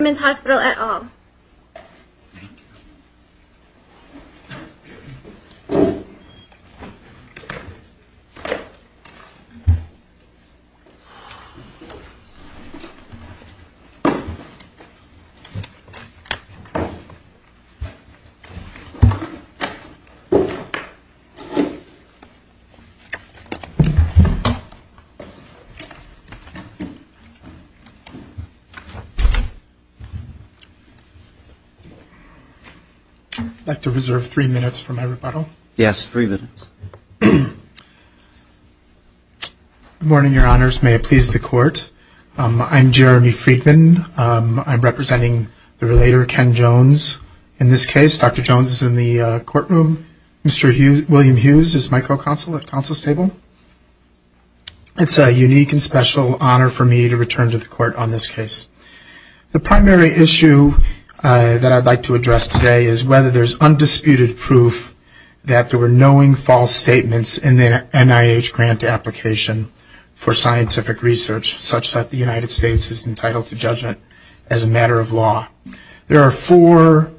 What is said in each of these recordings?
at all. I'd like to reserve three minutes for my rebuttal. Yes, three minutes. Good morning, Your Honors. May it please the Court. I'm Jeremy Friedman. I'm representing the relator, Ken Jones. In this case, Dr. Jones is in the courtroom. Mr. William Hughes is my co-counsel at counsel's table. It's a unique and special honor for me to return to the Court on this case. The primary issue that I'd like to address today is whether there's undisputed proof that there were knowing false statements in the NIH grant application for scientific research, such that the United States is entitled to judgment as a matter of law. There are four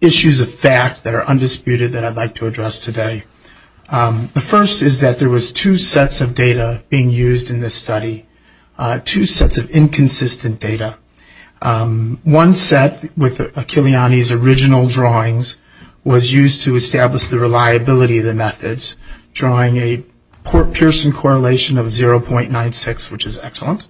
issues of fact that are undisputed that I'd like to address today. The first is that there was two sets of data being used in this study, two sets of inconsistent data. One set with Achilliani's original drawings was used to establish the reliability of the methods, drawing a Pearson correlation of 0.96, which is excellent.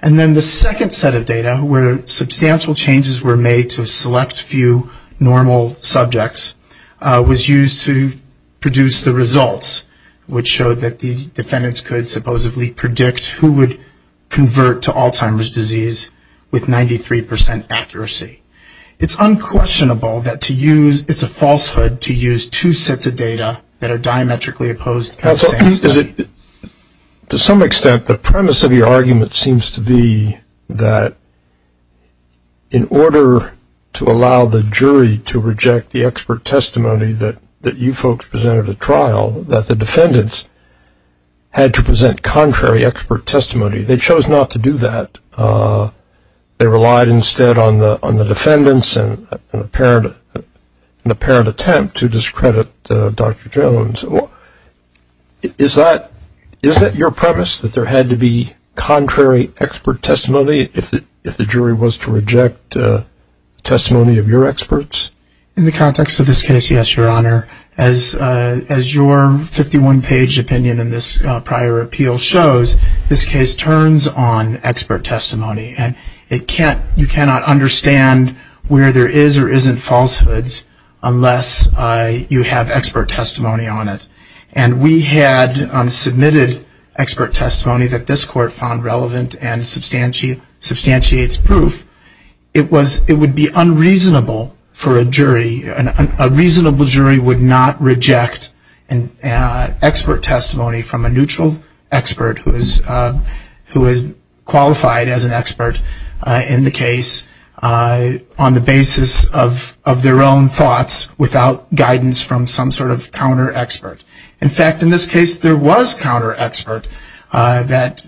And then the second set of data, where substantial changes were made to a select few normal subjects, was used to produce the results, which showed that the defendants could supposedly predict who would convert to Alzheimer's disease with 93 percent accuracy. It's unquestionable that it's a falsehood to use two sets of data that are diametrically opposed. To some extent, the premise of your argument seems to be that in order to allow the jury to reject the expert had to present contrary expert testimony. They chose not to do that. They relied instead on the defendants and an apparent attempt to discredit Dr. Jones. Is that your premise, that there had to be contrary expert testimony if the jury was to reject testimony of your experts? In the context of this case, yes, Your Honor. As your 51-page opinion in this prior appeal shows, this case turns on expert testimony. And you cannot understand where there is or isn't falsehoods unless you have expert testimony on it. And we had submitted expert testimony that this court found relevant and substantiates proof. It would be unreasonable for a jury, a reasonable jury would not reject expert testimony from a neutral expert who is qualified as an expert in the case on the basis of their own thoughts without guidance from some sort of counter-expert. In fact, in this case, there was counter-expert that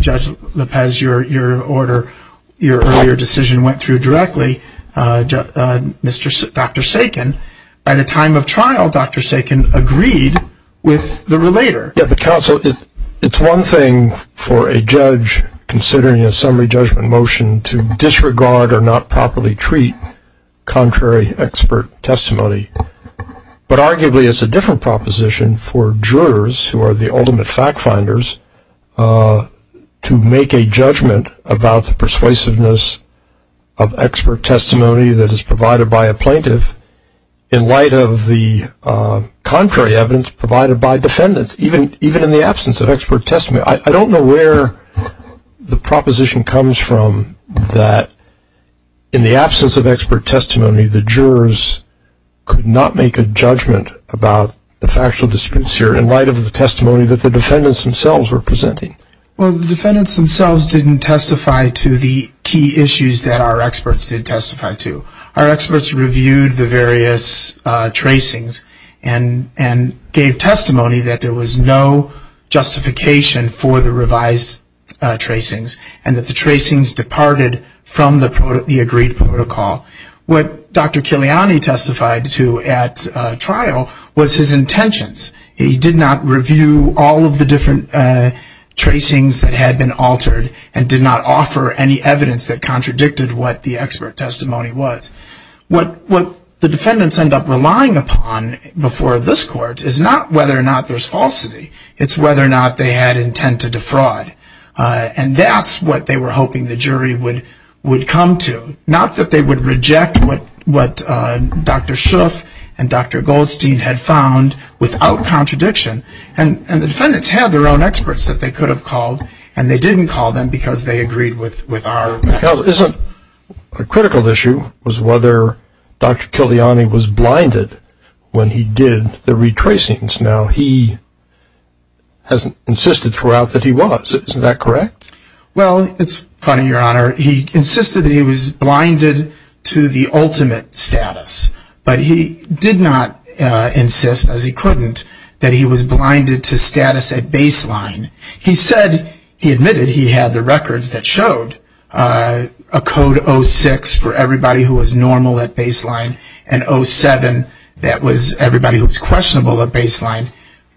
Judge Lopez, your earlier decision went through directly. Dr. Sakin, at a time of trial, Dr. Sakin agreed with the relator. Yeah, but counsel, it's one thing for a judge considering a summary judgment motion to disregard or not properly treat contrary expert testimony, but arguably it's a different proposition for jurors, who are the ultimate fact-finders, to make a judgment about the persuasiveness of expert testimony that is provided by a plaintiff in light of the contrary evidence provided by defendants, even in the absence of expert testimony. I don't know where the proposition comes from that in the absence of expert testimony, the jurors could not make a judgment about the factual disputes here in light of the testimony that the defendants themselves were presenting. Well, the defendants themselves didn't testify to the key issues that our experts did testify to. Our experts reviewed the various tracings and gave testimony that there was no justification for the revised tracings and that the tracings departed from the agreed protocol. What Dr. Kiliani testified to at trial was his intentions. He did not review all of the different tracings that had been altered and did not offer any evidence that contradicted what the expert testimony was. What the defendants end up relying upon before this court is not whether or not there's falsity. It's whether or not they had intent to defraud, and that's what they were hoping the jury would come to, not that they would reject what Dr. Shuff and Dr. Goldstein had found without contradiction. And the defendants have their own experts that they could have called, and they didn't call them because they agreed with our experts. Well, isn't a critical issue was whether Dr. Kiliani was blinded when he did the retracings. Now, he has insisted throughout that he was. Isn't that correct? Well, it's funny, Your Honor. He insisted that he was blinded to the ultimate status, but he did not insist, as he couldn't, that he was blinded to status at baseline. He admitted he had the records that showed a code 06 for everybody who was normal at baseline and 07 that was everybody who was questionable at baseline.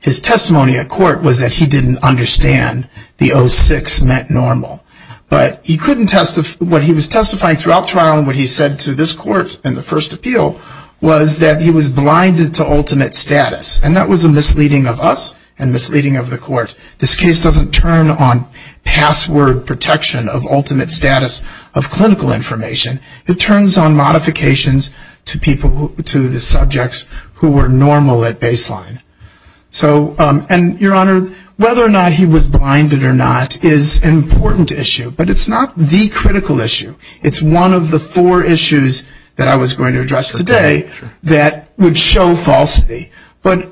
His testimony at court was that he didn't understand the 06 meant normal. But what he was testifying throughout trial and what he said to this court in the first appeal was that he was blinded to ultimate status, and that was a misleading of us and misleading of the court. This case doesn't turn on password protection of ultimate status of clinical information. It turns on modifications to the subjects who were normal at baseline. And, Your Honor, whether or not he was blinded or not is an important issue, but it's not the critical issue. It's one of the four issues that I was going to address today that would show falsity. But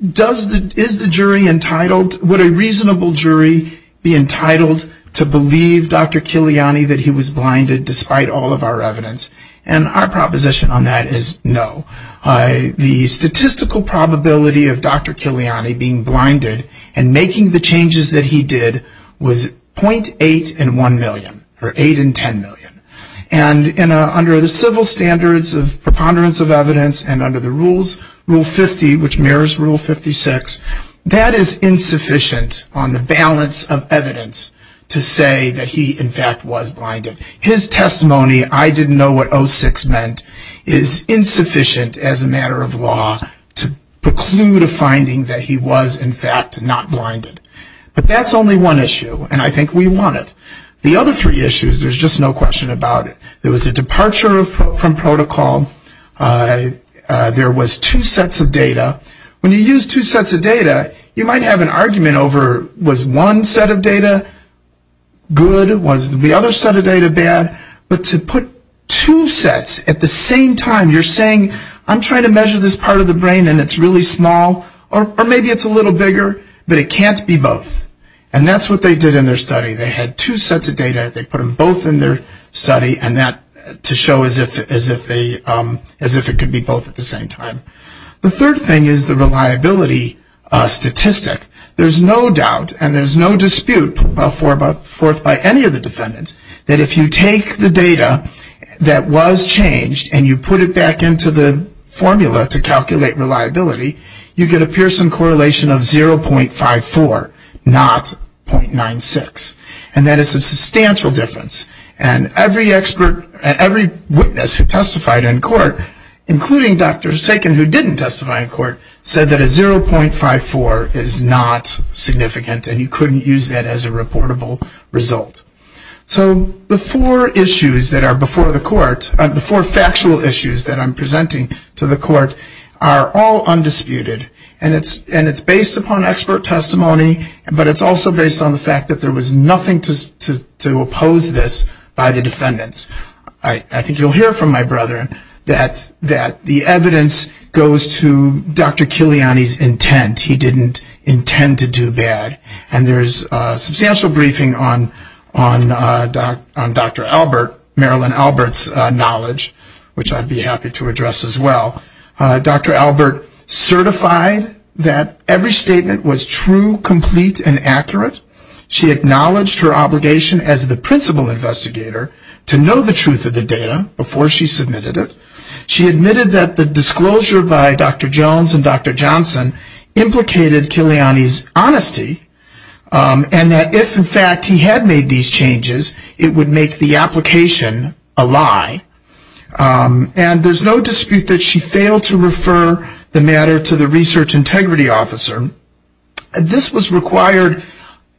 is the jury entitled? Would a reasonable jury be entitled to believe Dr. Kiliani that he was blinded, despite all of our evidence? And our proposition on that is no. The statistical probability of Dr. Kiliani being blinded and making the changes that he did was .8 in 1 million, or 8 in 10 million. And under the civil standards of preponderance of evidence and under the rules, Rule 50, which mirrors Rule 56, that is insufficient on the balance of evidence to say that he, in fact, was blinded. His testimony, I didn't know what 06 meant, is insufficient as a matter of law to preclude a finding that he was, in fact, not blinded. But that's only one issue, and I think we want it. The other three issues, there's just no question about it. There was a departure from protocol. There was two sets of data. When you use two sets of data, you might have an argument over, was one set of data good? Was the other set of data bad? But to put two sets at the same time, you're saying, I'm trying to measure this part of the brain and it's really small, or maybe it's a little bigger, but it can't be both. And that's what they did in their study. They had two sets of data. They put them both in their study to show as if it could be both at the same time. The third thing is the reliability statistic. There's no doubt and there's no dispute put forth by any of the defendants that if you take the data that was changed and you put it back into the formula to calculate reliability, you get a Pearson correlation of 0.54, not 0.96. And that is a substantial difference. And every witness who testified in court, including Dr. Sagan who didn't testify in court, said that a 0.54 is not significant and you couldn't use that as a reportable result. So the four issues that are before the court, the four factual issues that I'm presenting to the court are all undisputed and it's based upon expert testimony, but it's also based on the fact that there was nothing to oppose this by the defendants. I think you'll hear from my brother that the evidence goes to Dr. Kiliani's intent. He didn't intend to do bad. And there's substantial briefing on Dr. Albert, Marilyn Albert's knowledge, which I'd be happy to address as well. Dr. Albert certified that every statement was true, complete, and accurate. She acknowledged her obligation as the principal investigator to know the truth of the data before she submitted it. She admitted that the disclosure by Dr. Jones and Dr. Johnson implicated Kiliani's honesty and that if, in fact, he had made these changes, it would make the application a lie. And there's no dispute that she failed to refer the matter to the research integrity officer. This was required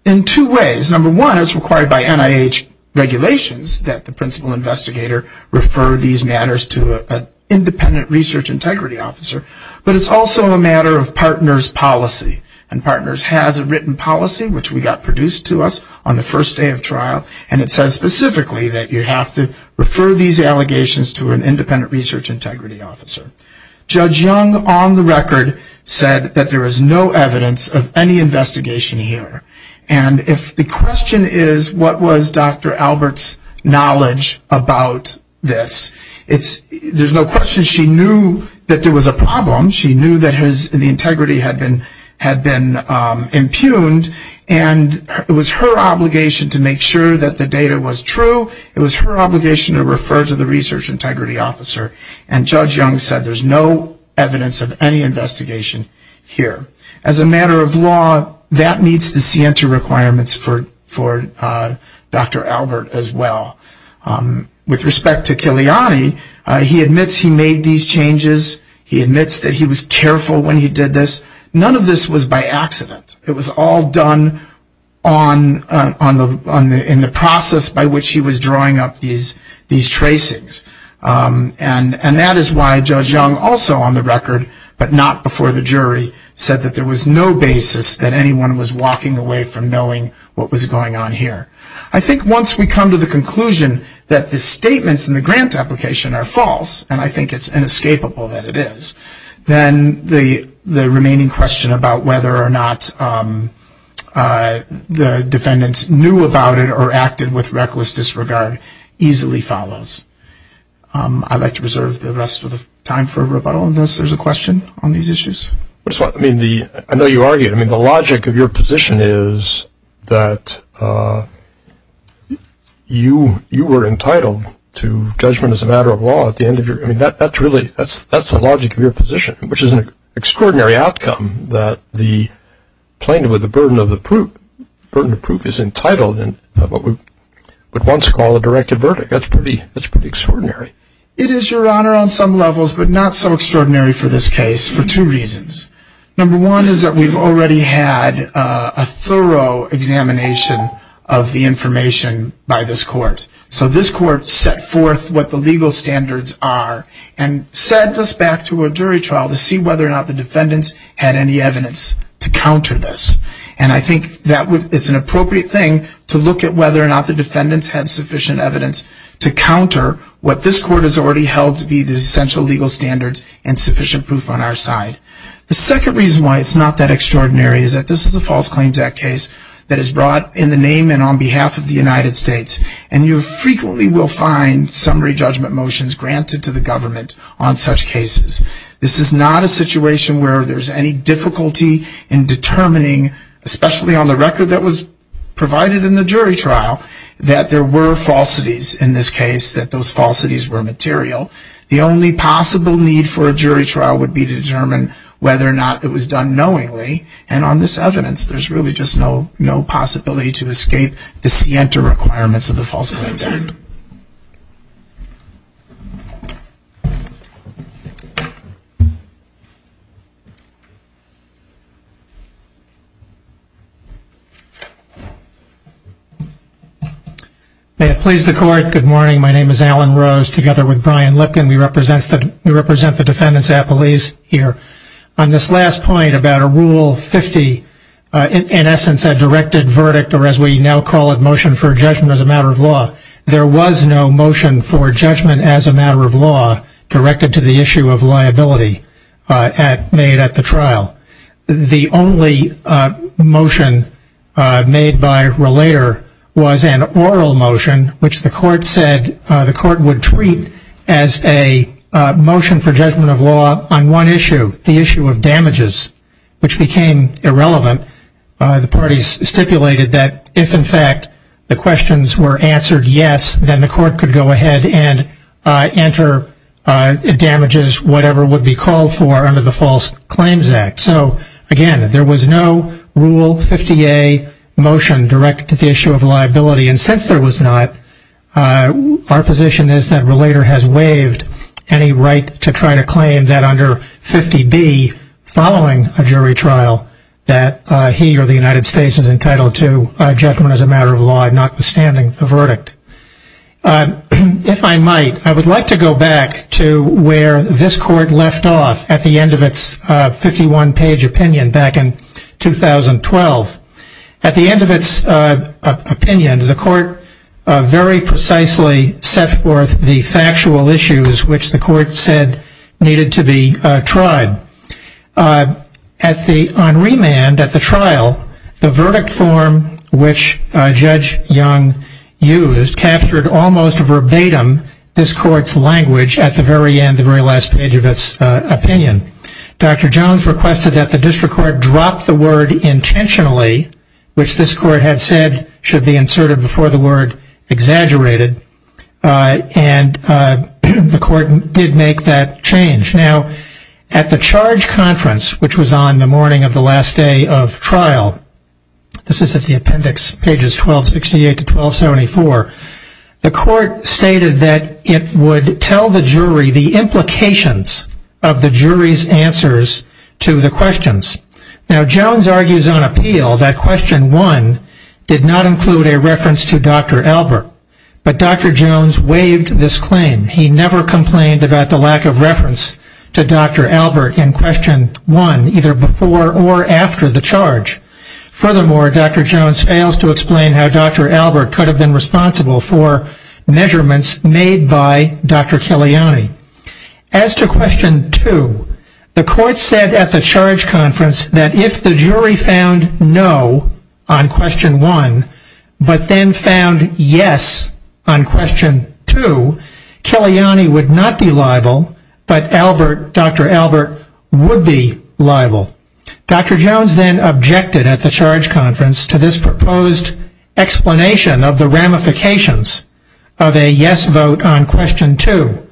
in two ways. Number one, it's required by NIH regulations that the principal investigator refer these matters to an independent research integrity officer, but it's also a matter of partners' policy. And partners has a written policy, which we got produced to us on the first day of trial, and it says specifically that you have to refer these allegations to an independent research integrity officer. Judge Young, on the record, said that there is no evidence of any investigation here. And if the question is what was Dr. Albert's knowledge about this, there's no question she knew that there was a problem. She knew that the integrity had been impugned, and it was her obligation to make sure that the data was true. It was her obligation to refer to the research integrity officer. And Judge Young said there's no evidence of any investigation here. As a matter of law, that meets the CENTER requirements for Dr. Albert as well. With respect to Kiliani, he admits he made these changes. He admits that he was careful when he did this. None of this was by accident. It was all done in the process by which he was drawing up these tracings. And that is why Judge Young also, on the record, but not before the jury, said that there was no basis that anyone was walking away from knowing what was going on here. I think once we come to the conclusion that the statements in the grant application are false, and I think it's inescapable that it is, then the remaining question about whether or not the defendants knew about it or acted with reckless disregard easily follows. I'd like to reserve the rest of the time for rebuttal unless there's a question on these issues. I know you argued. The logic of your position is that you were entitled to judgment as a matter of law. That's the logic of your position, which is an extraordinary outcome that the plaintiff with the burden of proof is entitled in what we would once call a directed verdict. That's pretty extraordinary. It is, Your Honor, on some levels, but not so extraordinary for this case for two reasons. Number one is that we've already had a thorough examination of the information by this court. So this court set forth what the legal standards are and sent us back to a jury trial to see whether or not the defendants had any evidence to counter this. And I think it's an appropriate thing to look at whether or not the defendants had sufficient evidence to counter what this court has already held to be the essential legal standards and sufficient proof on our side. The second reason why it's not that extraordinary is that this is a false claims act case that is brought in the name and on behalf of the United States, and you frequently will find summary judgment motions granted to the government on such cases. This is not a situation where there's any difficulty in determining, especially on the record that was provided in the jury trial, that there were falsities in this case, that those falsities were material. The only possible need for a jury trial would be to determine whether or not it was done knowingly, and on this evidence there's really just no possibility to escape the scienter requirements of the false claims act. May it please the court. Good morning. My name is Alan Rose together with Brian Lipkin. We represent the defendants' appellees here. On this last point about a Rule 50, in essence a directed verdict or as we now call it motion for judgment as a matter of law, there was no motion for judgment as a matter of law directed to the issue of liability made at the trial. The only motion made by relator was an oral motion, which the court said the court would treat as a motion for judgment of law on one issue, the issue of damages, which became irrelevant. The parties stipulated that if, in fact, the questions were answered yes, then the court could go ahead and enter damages, whatever would be called for under the false claims act. So, again, there was no Rule 50A motion directed to the issue of liability, and since there was not, our position is that relator has waived any right to try to claim that under 50B, following a jury trial, that he or the United States is entitled to judgment as a matter of law, notwithstanding the verdict. If I might, I would like to go back to where this court left off at the end of its 51-page opinion back in 2012. At the end of its opinion, the court very precisely set forth the factual issues which the court said needed to be tried. On remand at the trial, the verdict form which Judge Young used captured almost verbatim this court's language at the very end, the very last page of its opinion. Dr. Jones requested that the district court drop the word intentionally, which this court had said should be inserted before the word exaggerated, and the court did make that change. Now, at the charge conference, which was on the morning of the last day of trial, this is at the appendix, pages 1268 to 1274, the court stated that it would tell the jury the implications of the jury's answers to the questions. Now, Jones argues on appeal that question one did not include a reference to Dr. Albert, but Dr. Jones waived this claim. He never complained about the lack of reference to Dr. Albert in question one, either before or after the charge. Furthermore, Dr. Jones fails to explain how Dr. Albert could have been responsible for measurements made by Dr. Killiani. As to question two, the court said at the charge conference that if the jury found no on question one, but then found yes on question two, Killiani would not be liable, but Dr. Albert would be liable. Dr. Jones then objected at the charge conference to this proposed explanation of the ramifications of a yes vote on question two.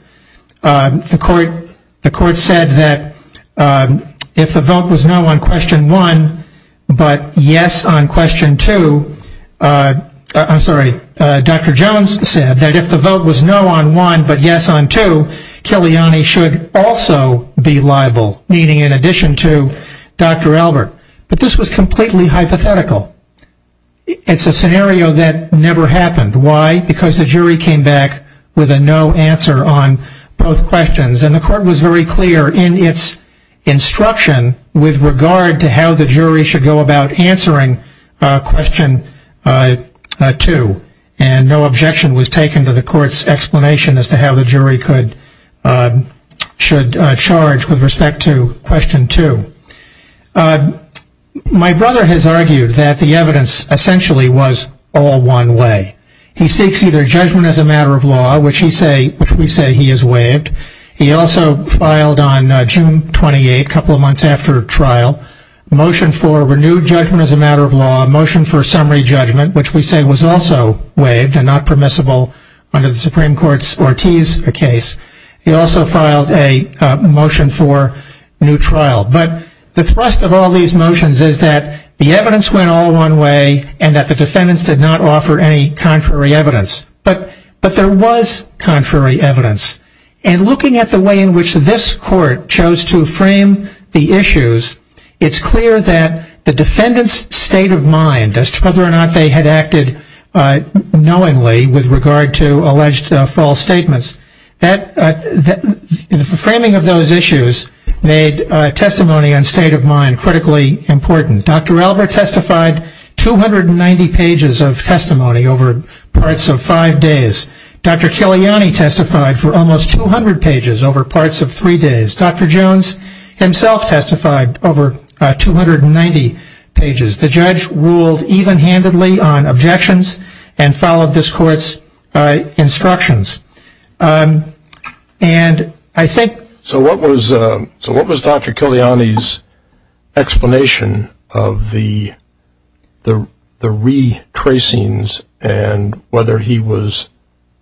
The court said that if the vote was no on question one, but yes on question two, Dr. Jones said that if the vote was no on one, but yes on two, Killiani should also be liable, meaning in addition to Dr. Albert. But this was completely hypothetical. It's a scenario that never happened. Why? Because the jury came back with a no answer on both questions, and the court was very clear in its instruction with regard to how the jury should go about answering question two, and no objection was taken to the court's explanation as to how the jury should charge with respect to question two. My brother has argued that the evidence essentially was all one way. He seeks either judgment as a matter of law, which we say he has waived. He also filed on June 28, a couple of months after trial, a motion for renewed judgment as a matter of law, a motion for summary judgment, which we say was also waived and not permissible under the Supreme Court's Ortiz case. He also filed a motion for new trial. But the thrust of all these motions is that the evidence went all one way and that the defendants did not offer any contrary evidence. But there was contrary evidence. And looking at the way in which this court chose to frame the issues, it's clear that the defendants' state of mind as to whether or not they had acted knowingly with regard to alleged false statements, the framing of those issues made testimony on state of mind critically important. Dr. Albert testified 290 pages of testimony over parts of five days. Dr. Kiliani testified for almost 200 pages over parts of three days. Dr. Jones himself testified over 290 pages. The judge ruled even-handedly on objections and followed this court's instructions. So what was Dr. Kiliani's explanation of the retracings and whether he was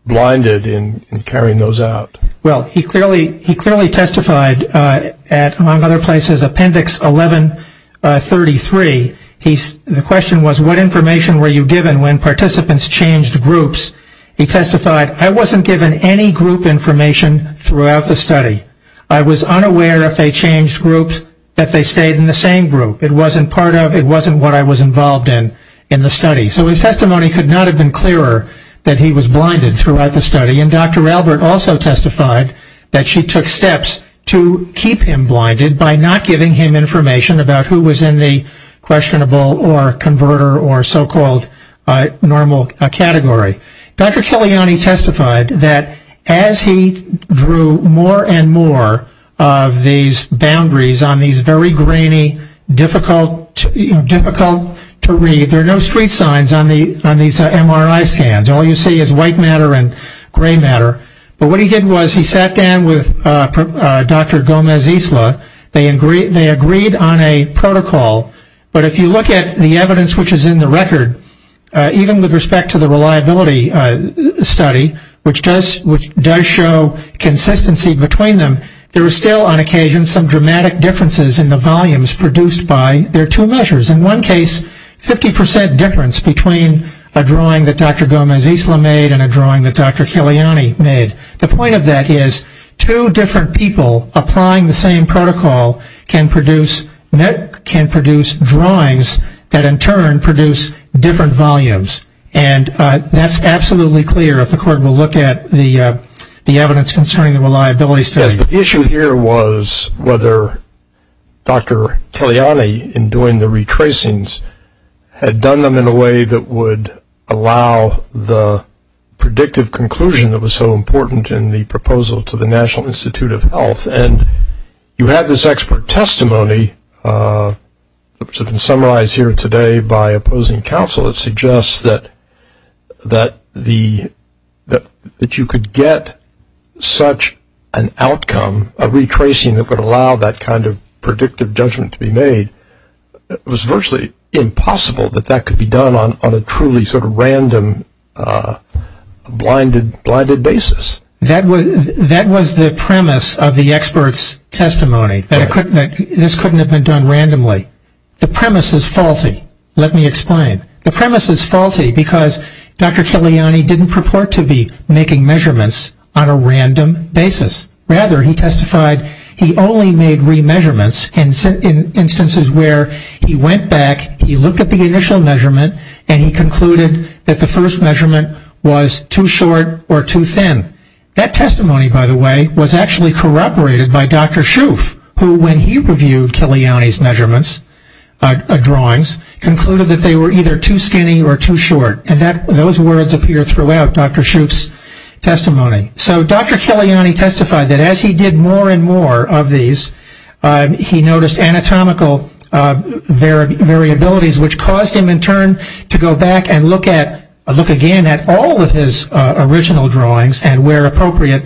blinded in carrying those out? Well, he clearly testified at, among other places, Appendix 1133. The question was, what information were you given when participants changed groups? He testified, I wasn't given any group information throughout the study. I was unaware if they changed groups that they stayed in the same group. It wasn't part of, it wasn't what I was involved in in the study. So his testimony could not have been clearer that he was blinded throughout the study. And Dr. Albert also testified that she took steps to keep him blinded by not giving him information about who was in the questionable or converter or so-called normal category. Dr. Kiliani testified that as he drew more and more of these boundaries on these very grainy, difficult to read, there are no street signs on these MRI scans. All you see is white matter and gray matter. But what he did was he sat down with Dr. Gomez-Isla. They agreed on a protocol. But if you look at the evidence which is in the record, even with respect to the reliability study, which does show consistency between them, there are still on occasion some dramatic differences in the volumes produced by their two measures. In one case, 50% difference between a drawing that Dr. Gomez-Isla made and a drawing that Dr. Kiliani made. The point of that is two different people applying the same protocol can produce drawings that in turn produce different volumes. And that's absolutely clear if the court will look at the evidence concerning the reliability study. Yes, but the issue here was whether Dr. Kiliani, in doing the retracings, had done them in a way that would allow the predictive conclusion that was so important in the proposal to the National Institute of Health. And you have this expert testimony, which has been summarized here today by opposing counsel, that suggests that you could get such an outcome, a retracing that would allow that kind of predictive judgment to be made. It was virtually impossible that that could be done on a truly sort of random, blinded basis. That was the premise of the expert's testimony, that this couldn't have been done randomly. The premise is faulty. Let me explain. The premise is faulty because Dr. Kiliani didn't purport to be making measurements on a random basis. Rather, he testified he only made re-measurements in instances where he went back, he looked at the initial measurement, and he concluded that the first measurement was too short or too thin. That testimony, by the way, was actually corroborated by Dr. Schoof, who when he reviewed Kiliani's measurements, drawings, concluded that they were either too skinny or too short. And those words appear throughout Dr. Schoof's testimony. So Dr. Kiliani testified that as he did more and more of these, he noticed anatomical variabilities, which caused him in turn to go back and look again at all of his original drawings and where appropriate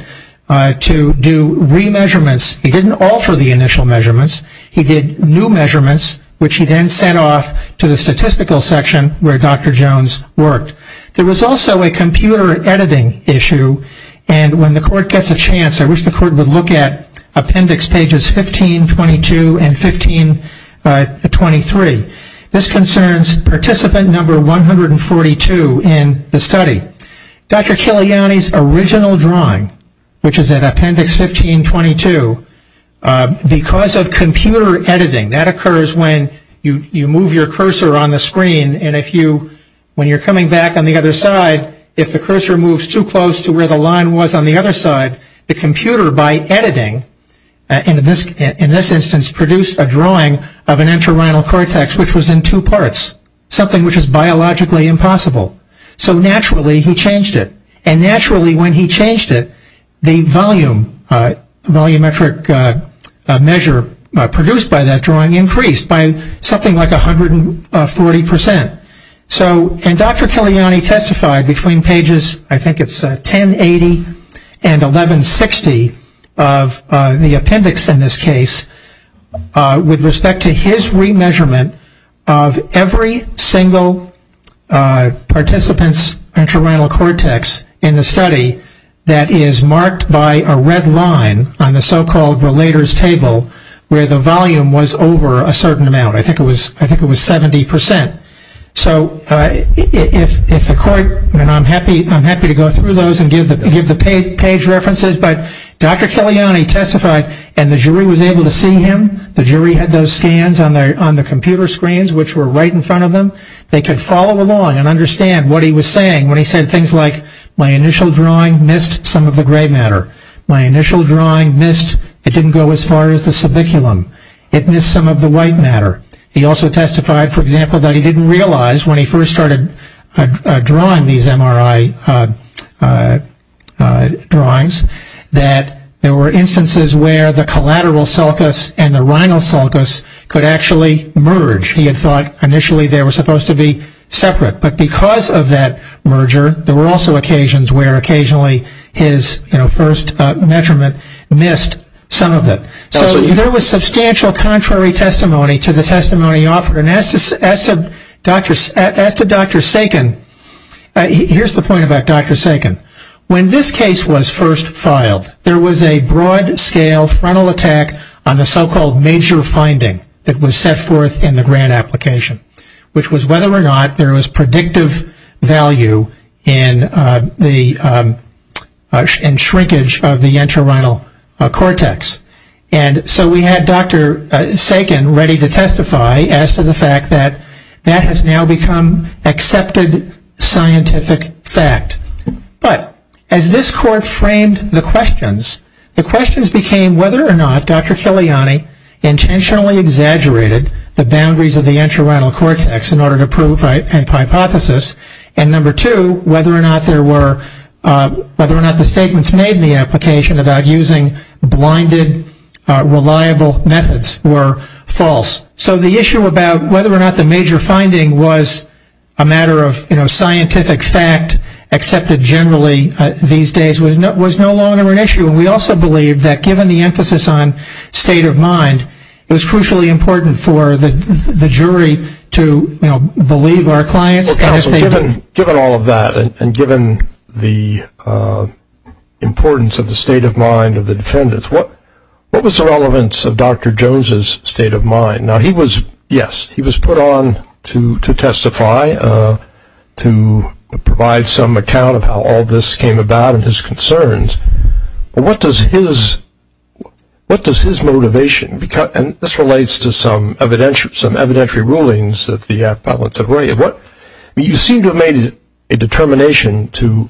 to do re-measurements. He didn't alter the initial measurements. He did new measurements, which he then sent off to the statistical section where Dr. Jones worked. There was also a computer editing issue, and when the court gets a chance, I wish the court would look at appendix pages 1522 and 1523. This concerns participant number 142 in the study. Dr. Kiliani's original drawing, which is at appendix 1522, because of computer editing, that occurs when you move your cursor on the screen, and when you're coming back on the other side, if the cursor moves too close to where the line was on the other side, the computer, by editing, in this instance, produced a drawing of an entorhinal cortex, which was in two parts, something which is biologically impossible. So naturally, he changed it. And naturally, when he changed it, the volumetric measure produced by that drawing increased by something like 140%. And Dr. Kiliani testified between pages, I think it's 1080 and 1160 of the appendix in this case, with respect to his re-measurement of every single participant's entorhinal cortex in the study that is marked by a red line on the so-called relator's table, where the volume was over a certain amount. I think it was 70%. So if the court, and I'm happy to go through those and give the page references, but Dr. Kiliani testified, and the jury was able to see him. The jury had those scans on the computer screens, which were right in front of them. They could follow along and understand what he was saying when he said things like, my initial drawing missed some of the gray matter. My initial drawing missed, it didn't go as far as the subiculum. It missed some of the white matter. He also testified, for example, that he didn't realize when he first started drawing these MRI drawings that there were instances where the collateral sulcus and the rhinal sulcus could actually merge. He had thought initially they were supposed to be separate. But because of that merger, there were also occasions where occasionally his first measurement missed some of it. So there was substantial contrary testimony to the testimony offered. And as to Dr. Sagan, here's the point about Dr. Sagan. When this case was first filed, there was a broad scale frontal attack on the so-called major finding that was set forth in the grant application, which was whether or not there was predictive value in shrinkage of the entorhinal cortex. And so we had Dr. Sagan ready to testify as to the fact that that has now become accepted scientific fact. But as this court framed the questions, the questions became whether or not Dr. Kiliani intentionally exaggerated the boundaries of the entorhinal cortex in order to prove a hypothesis, and number two, whether or not the statements made in the application about using blinded, reliable methods were false. So the issue about whether or not the major finding was a matter of, you know, scientific fact accepted generally these days was no longer an issue. And we also believe that given the emphasis on state of mind, it was crucially important for the jury to, you know, believe our clients. Counsel, given all of that and given the importance of the state of mind of the defendants, what was the relevance of Dr. Jones's state of mind? Now he was, yes, he was put on to testify, to provide some account of how all this came about and his concerns, but what does his motivation, and this relates to some evidentiary rulings that the appellants have raised. You seem to have made a determination to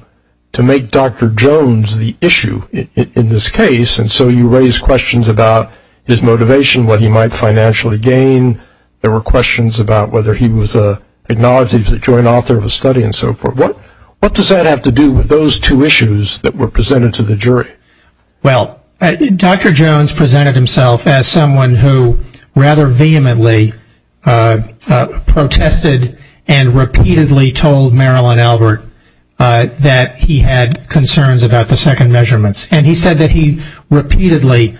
make Dr. Jones the issue in this case, and so you raise questions about his motivation, what he might financially gain. There were questions about whether he was acknowledged as a joint author of a study and so forth. What does that have to do with those two issues that were presented to the jury? Well, Dr. Jones presented himself as someone who rather vehemently protested and repeatedly told Marilyn Albert that he had concerns about the second measurements, and he said that he repeatedly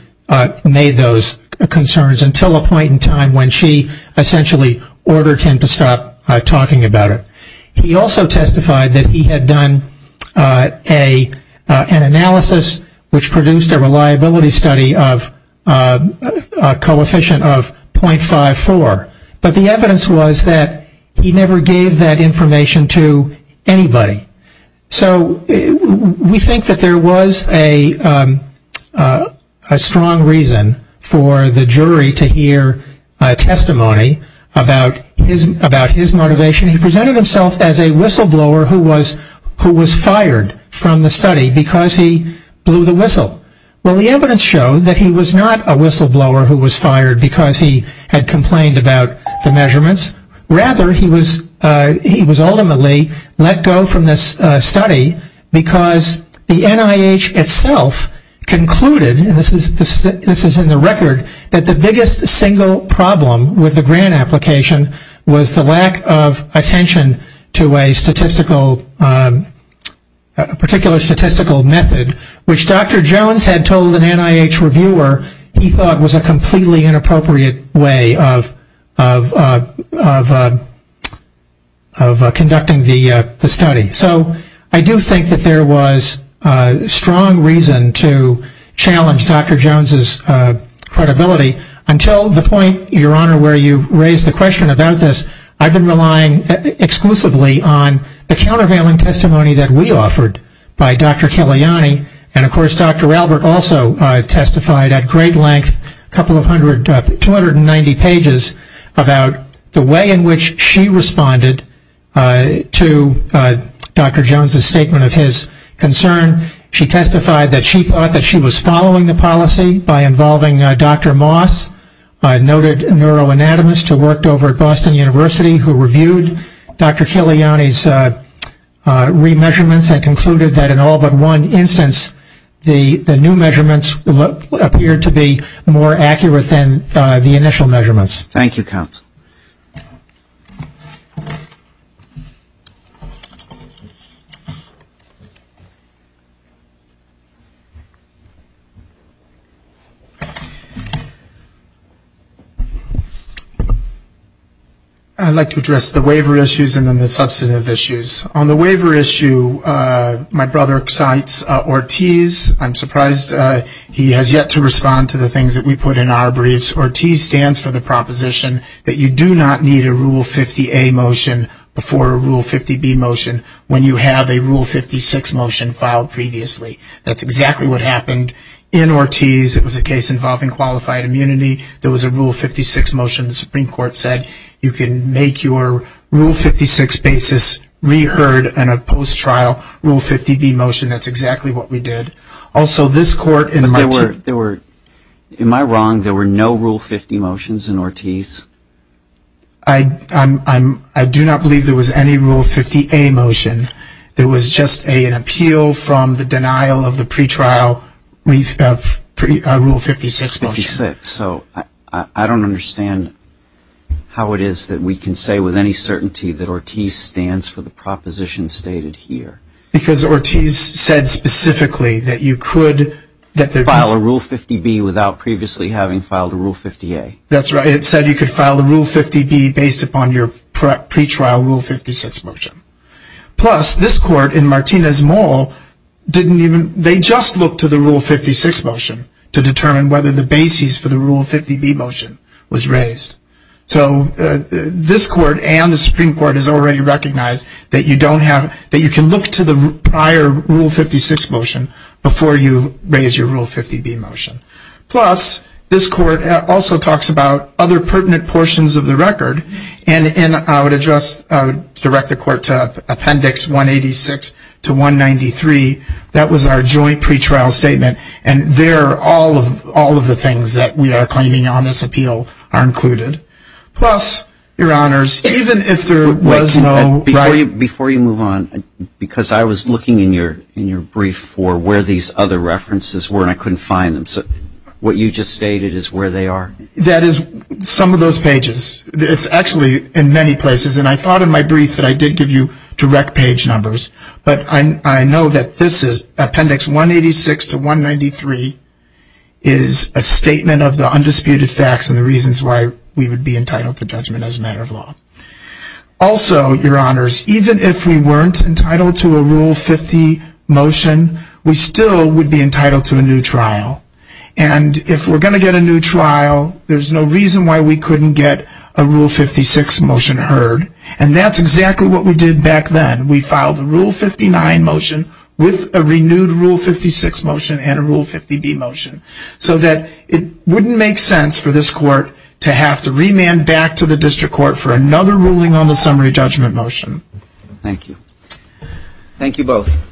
made those concerns until a point in time when she essentially ordered him to stop talking about it. He also testified that he had done an analysis which produced a reliability study of a coefficient of .54, but the evidence was that he never gave that information to anybody. So we think that there was a strong reason for the jury to hear testimony about his motivation. He presented himself as a whistleblower who was fired from the study because he blew the whistle. Well, the evidence showed that he was not a whistleblower who was fired because he had complained about the measurements. Rather, he was ultimately let go from this study because the NIH itself concluded, and this is in the record, that the biggest single problem with the grant application was the lack of attention to a particular statistical method, which Dr. Jones had told an NIH reviewer he thought was a completely inappropriate way of conducting the study. So I do think that there was strong reason to challenge Dr. Jones's credibility until the point, Your Honor, where you raised the question about this. I've been relying exclusively on the countervailing testimony that we offered by Dr. Kalyani, and of course Dr. Albert also testified at great length, a couple of hundred, 290 pages, about the way in which she responded to Dr. Jones's statement of his concern. She testified that she thought that she was following the policy by involving Dr. Moss, a noted neuroanatomist who worked over at Boston University who reviewed Dr. Kalyani's re-measurements and concluded that in all but one instance the new measurements appeared to be more accurate than the initial measurements. Thank you, counsel. I'd like to address the waiver issues and then the substantive issues. On the waiver issue, my brother cites Ortiz. I'm surprised he has yet to respond to the things that we put in our briefs. Ortiz stands for the proposition that you do not need a Rule 50A motion before a Rule 50B motion when you have a Rule 56 motion filed previously. That's exactly what happened in Ortiz. It was a case involving qualified immunity. There was a Rule 56 motion. The Supreme Court said you can make your Rule 56 basis reheard in a post-trial Rule 50B motion. That's exactly what we did. Am I wrong? There were no Rule 50 motions in Ortiz? I do not believe there was any Rule 50A motion. There was just an appeal from the denial of the pre-trial Rule 56 motion. I don't understand how it is that we can say with any certainty that Ortiz stands for the proposition stated here. Because Ortiz said specifically that you could... File a Rule 50B without previously having filed a Rule 50A. That's right. It said you could file a Rule 50B based upon your pre-trial Rule 56 motion. Plus, this court in Martinez-Moll didn't even, they just looked to the Rule 56 motion to determine whether the basis for the Rule 50B motion was raised. So this court and the Supreme Court has already recognized that you don't have, that you can look to the prior Rule 56 motion before you raise your Rule 50B motion. Plus, this court also talks about other pertinent portions of the record. And I would address, direct the court to Appendix 186 to 193. That was our joint pre-trial statement. And there are all of the things that we are claiming on this appeal are included. Plus, Your Honors, even if there was no... Before you move on, because I was looking in your brief for where these other references were and I couldn't find them. So what you just stated is where they are? That is some of those pages. It's actually in many places. And I thought in my brief that I did give you direct page numbers. But I know that this is Appendix 186 to 193 is a statement of the undisputed facts and the reasons why we would be entitled to judgment as a matter of law. Also, Your Honors, even if we weren't entitled to a Rule 50 motion, we still would be entitled to a new trial. And if we're going to get a new trial, there's no reason why we couldn't get a Rule 56 motion heard. And that's exactly what we did back then. We filed a Rule 59 motion with a renewed Rule 56 motion and a Rule 50b motion so that it wouldn't make sense for this court to have to remand back to the district court for another ruling on the summary judgment motion. Thank you. Thank you both.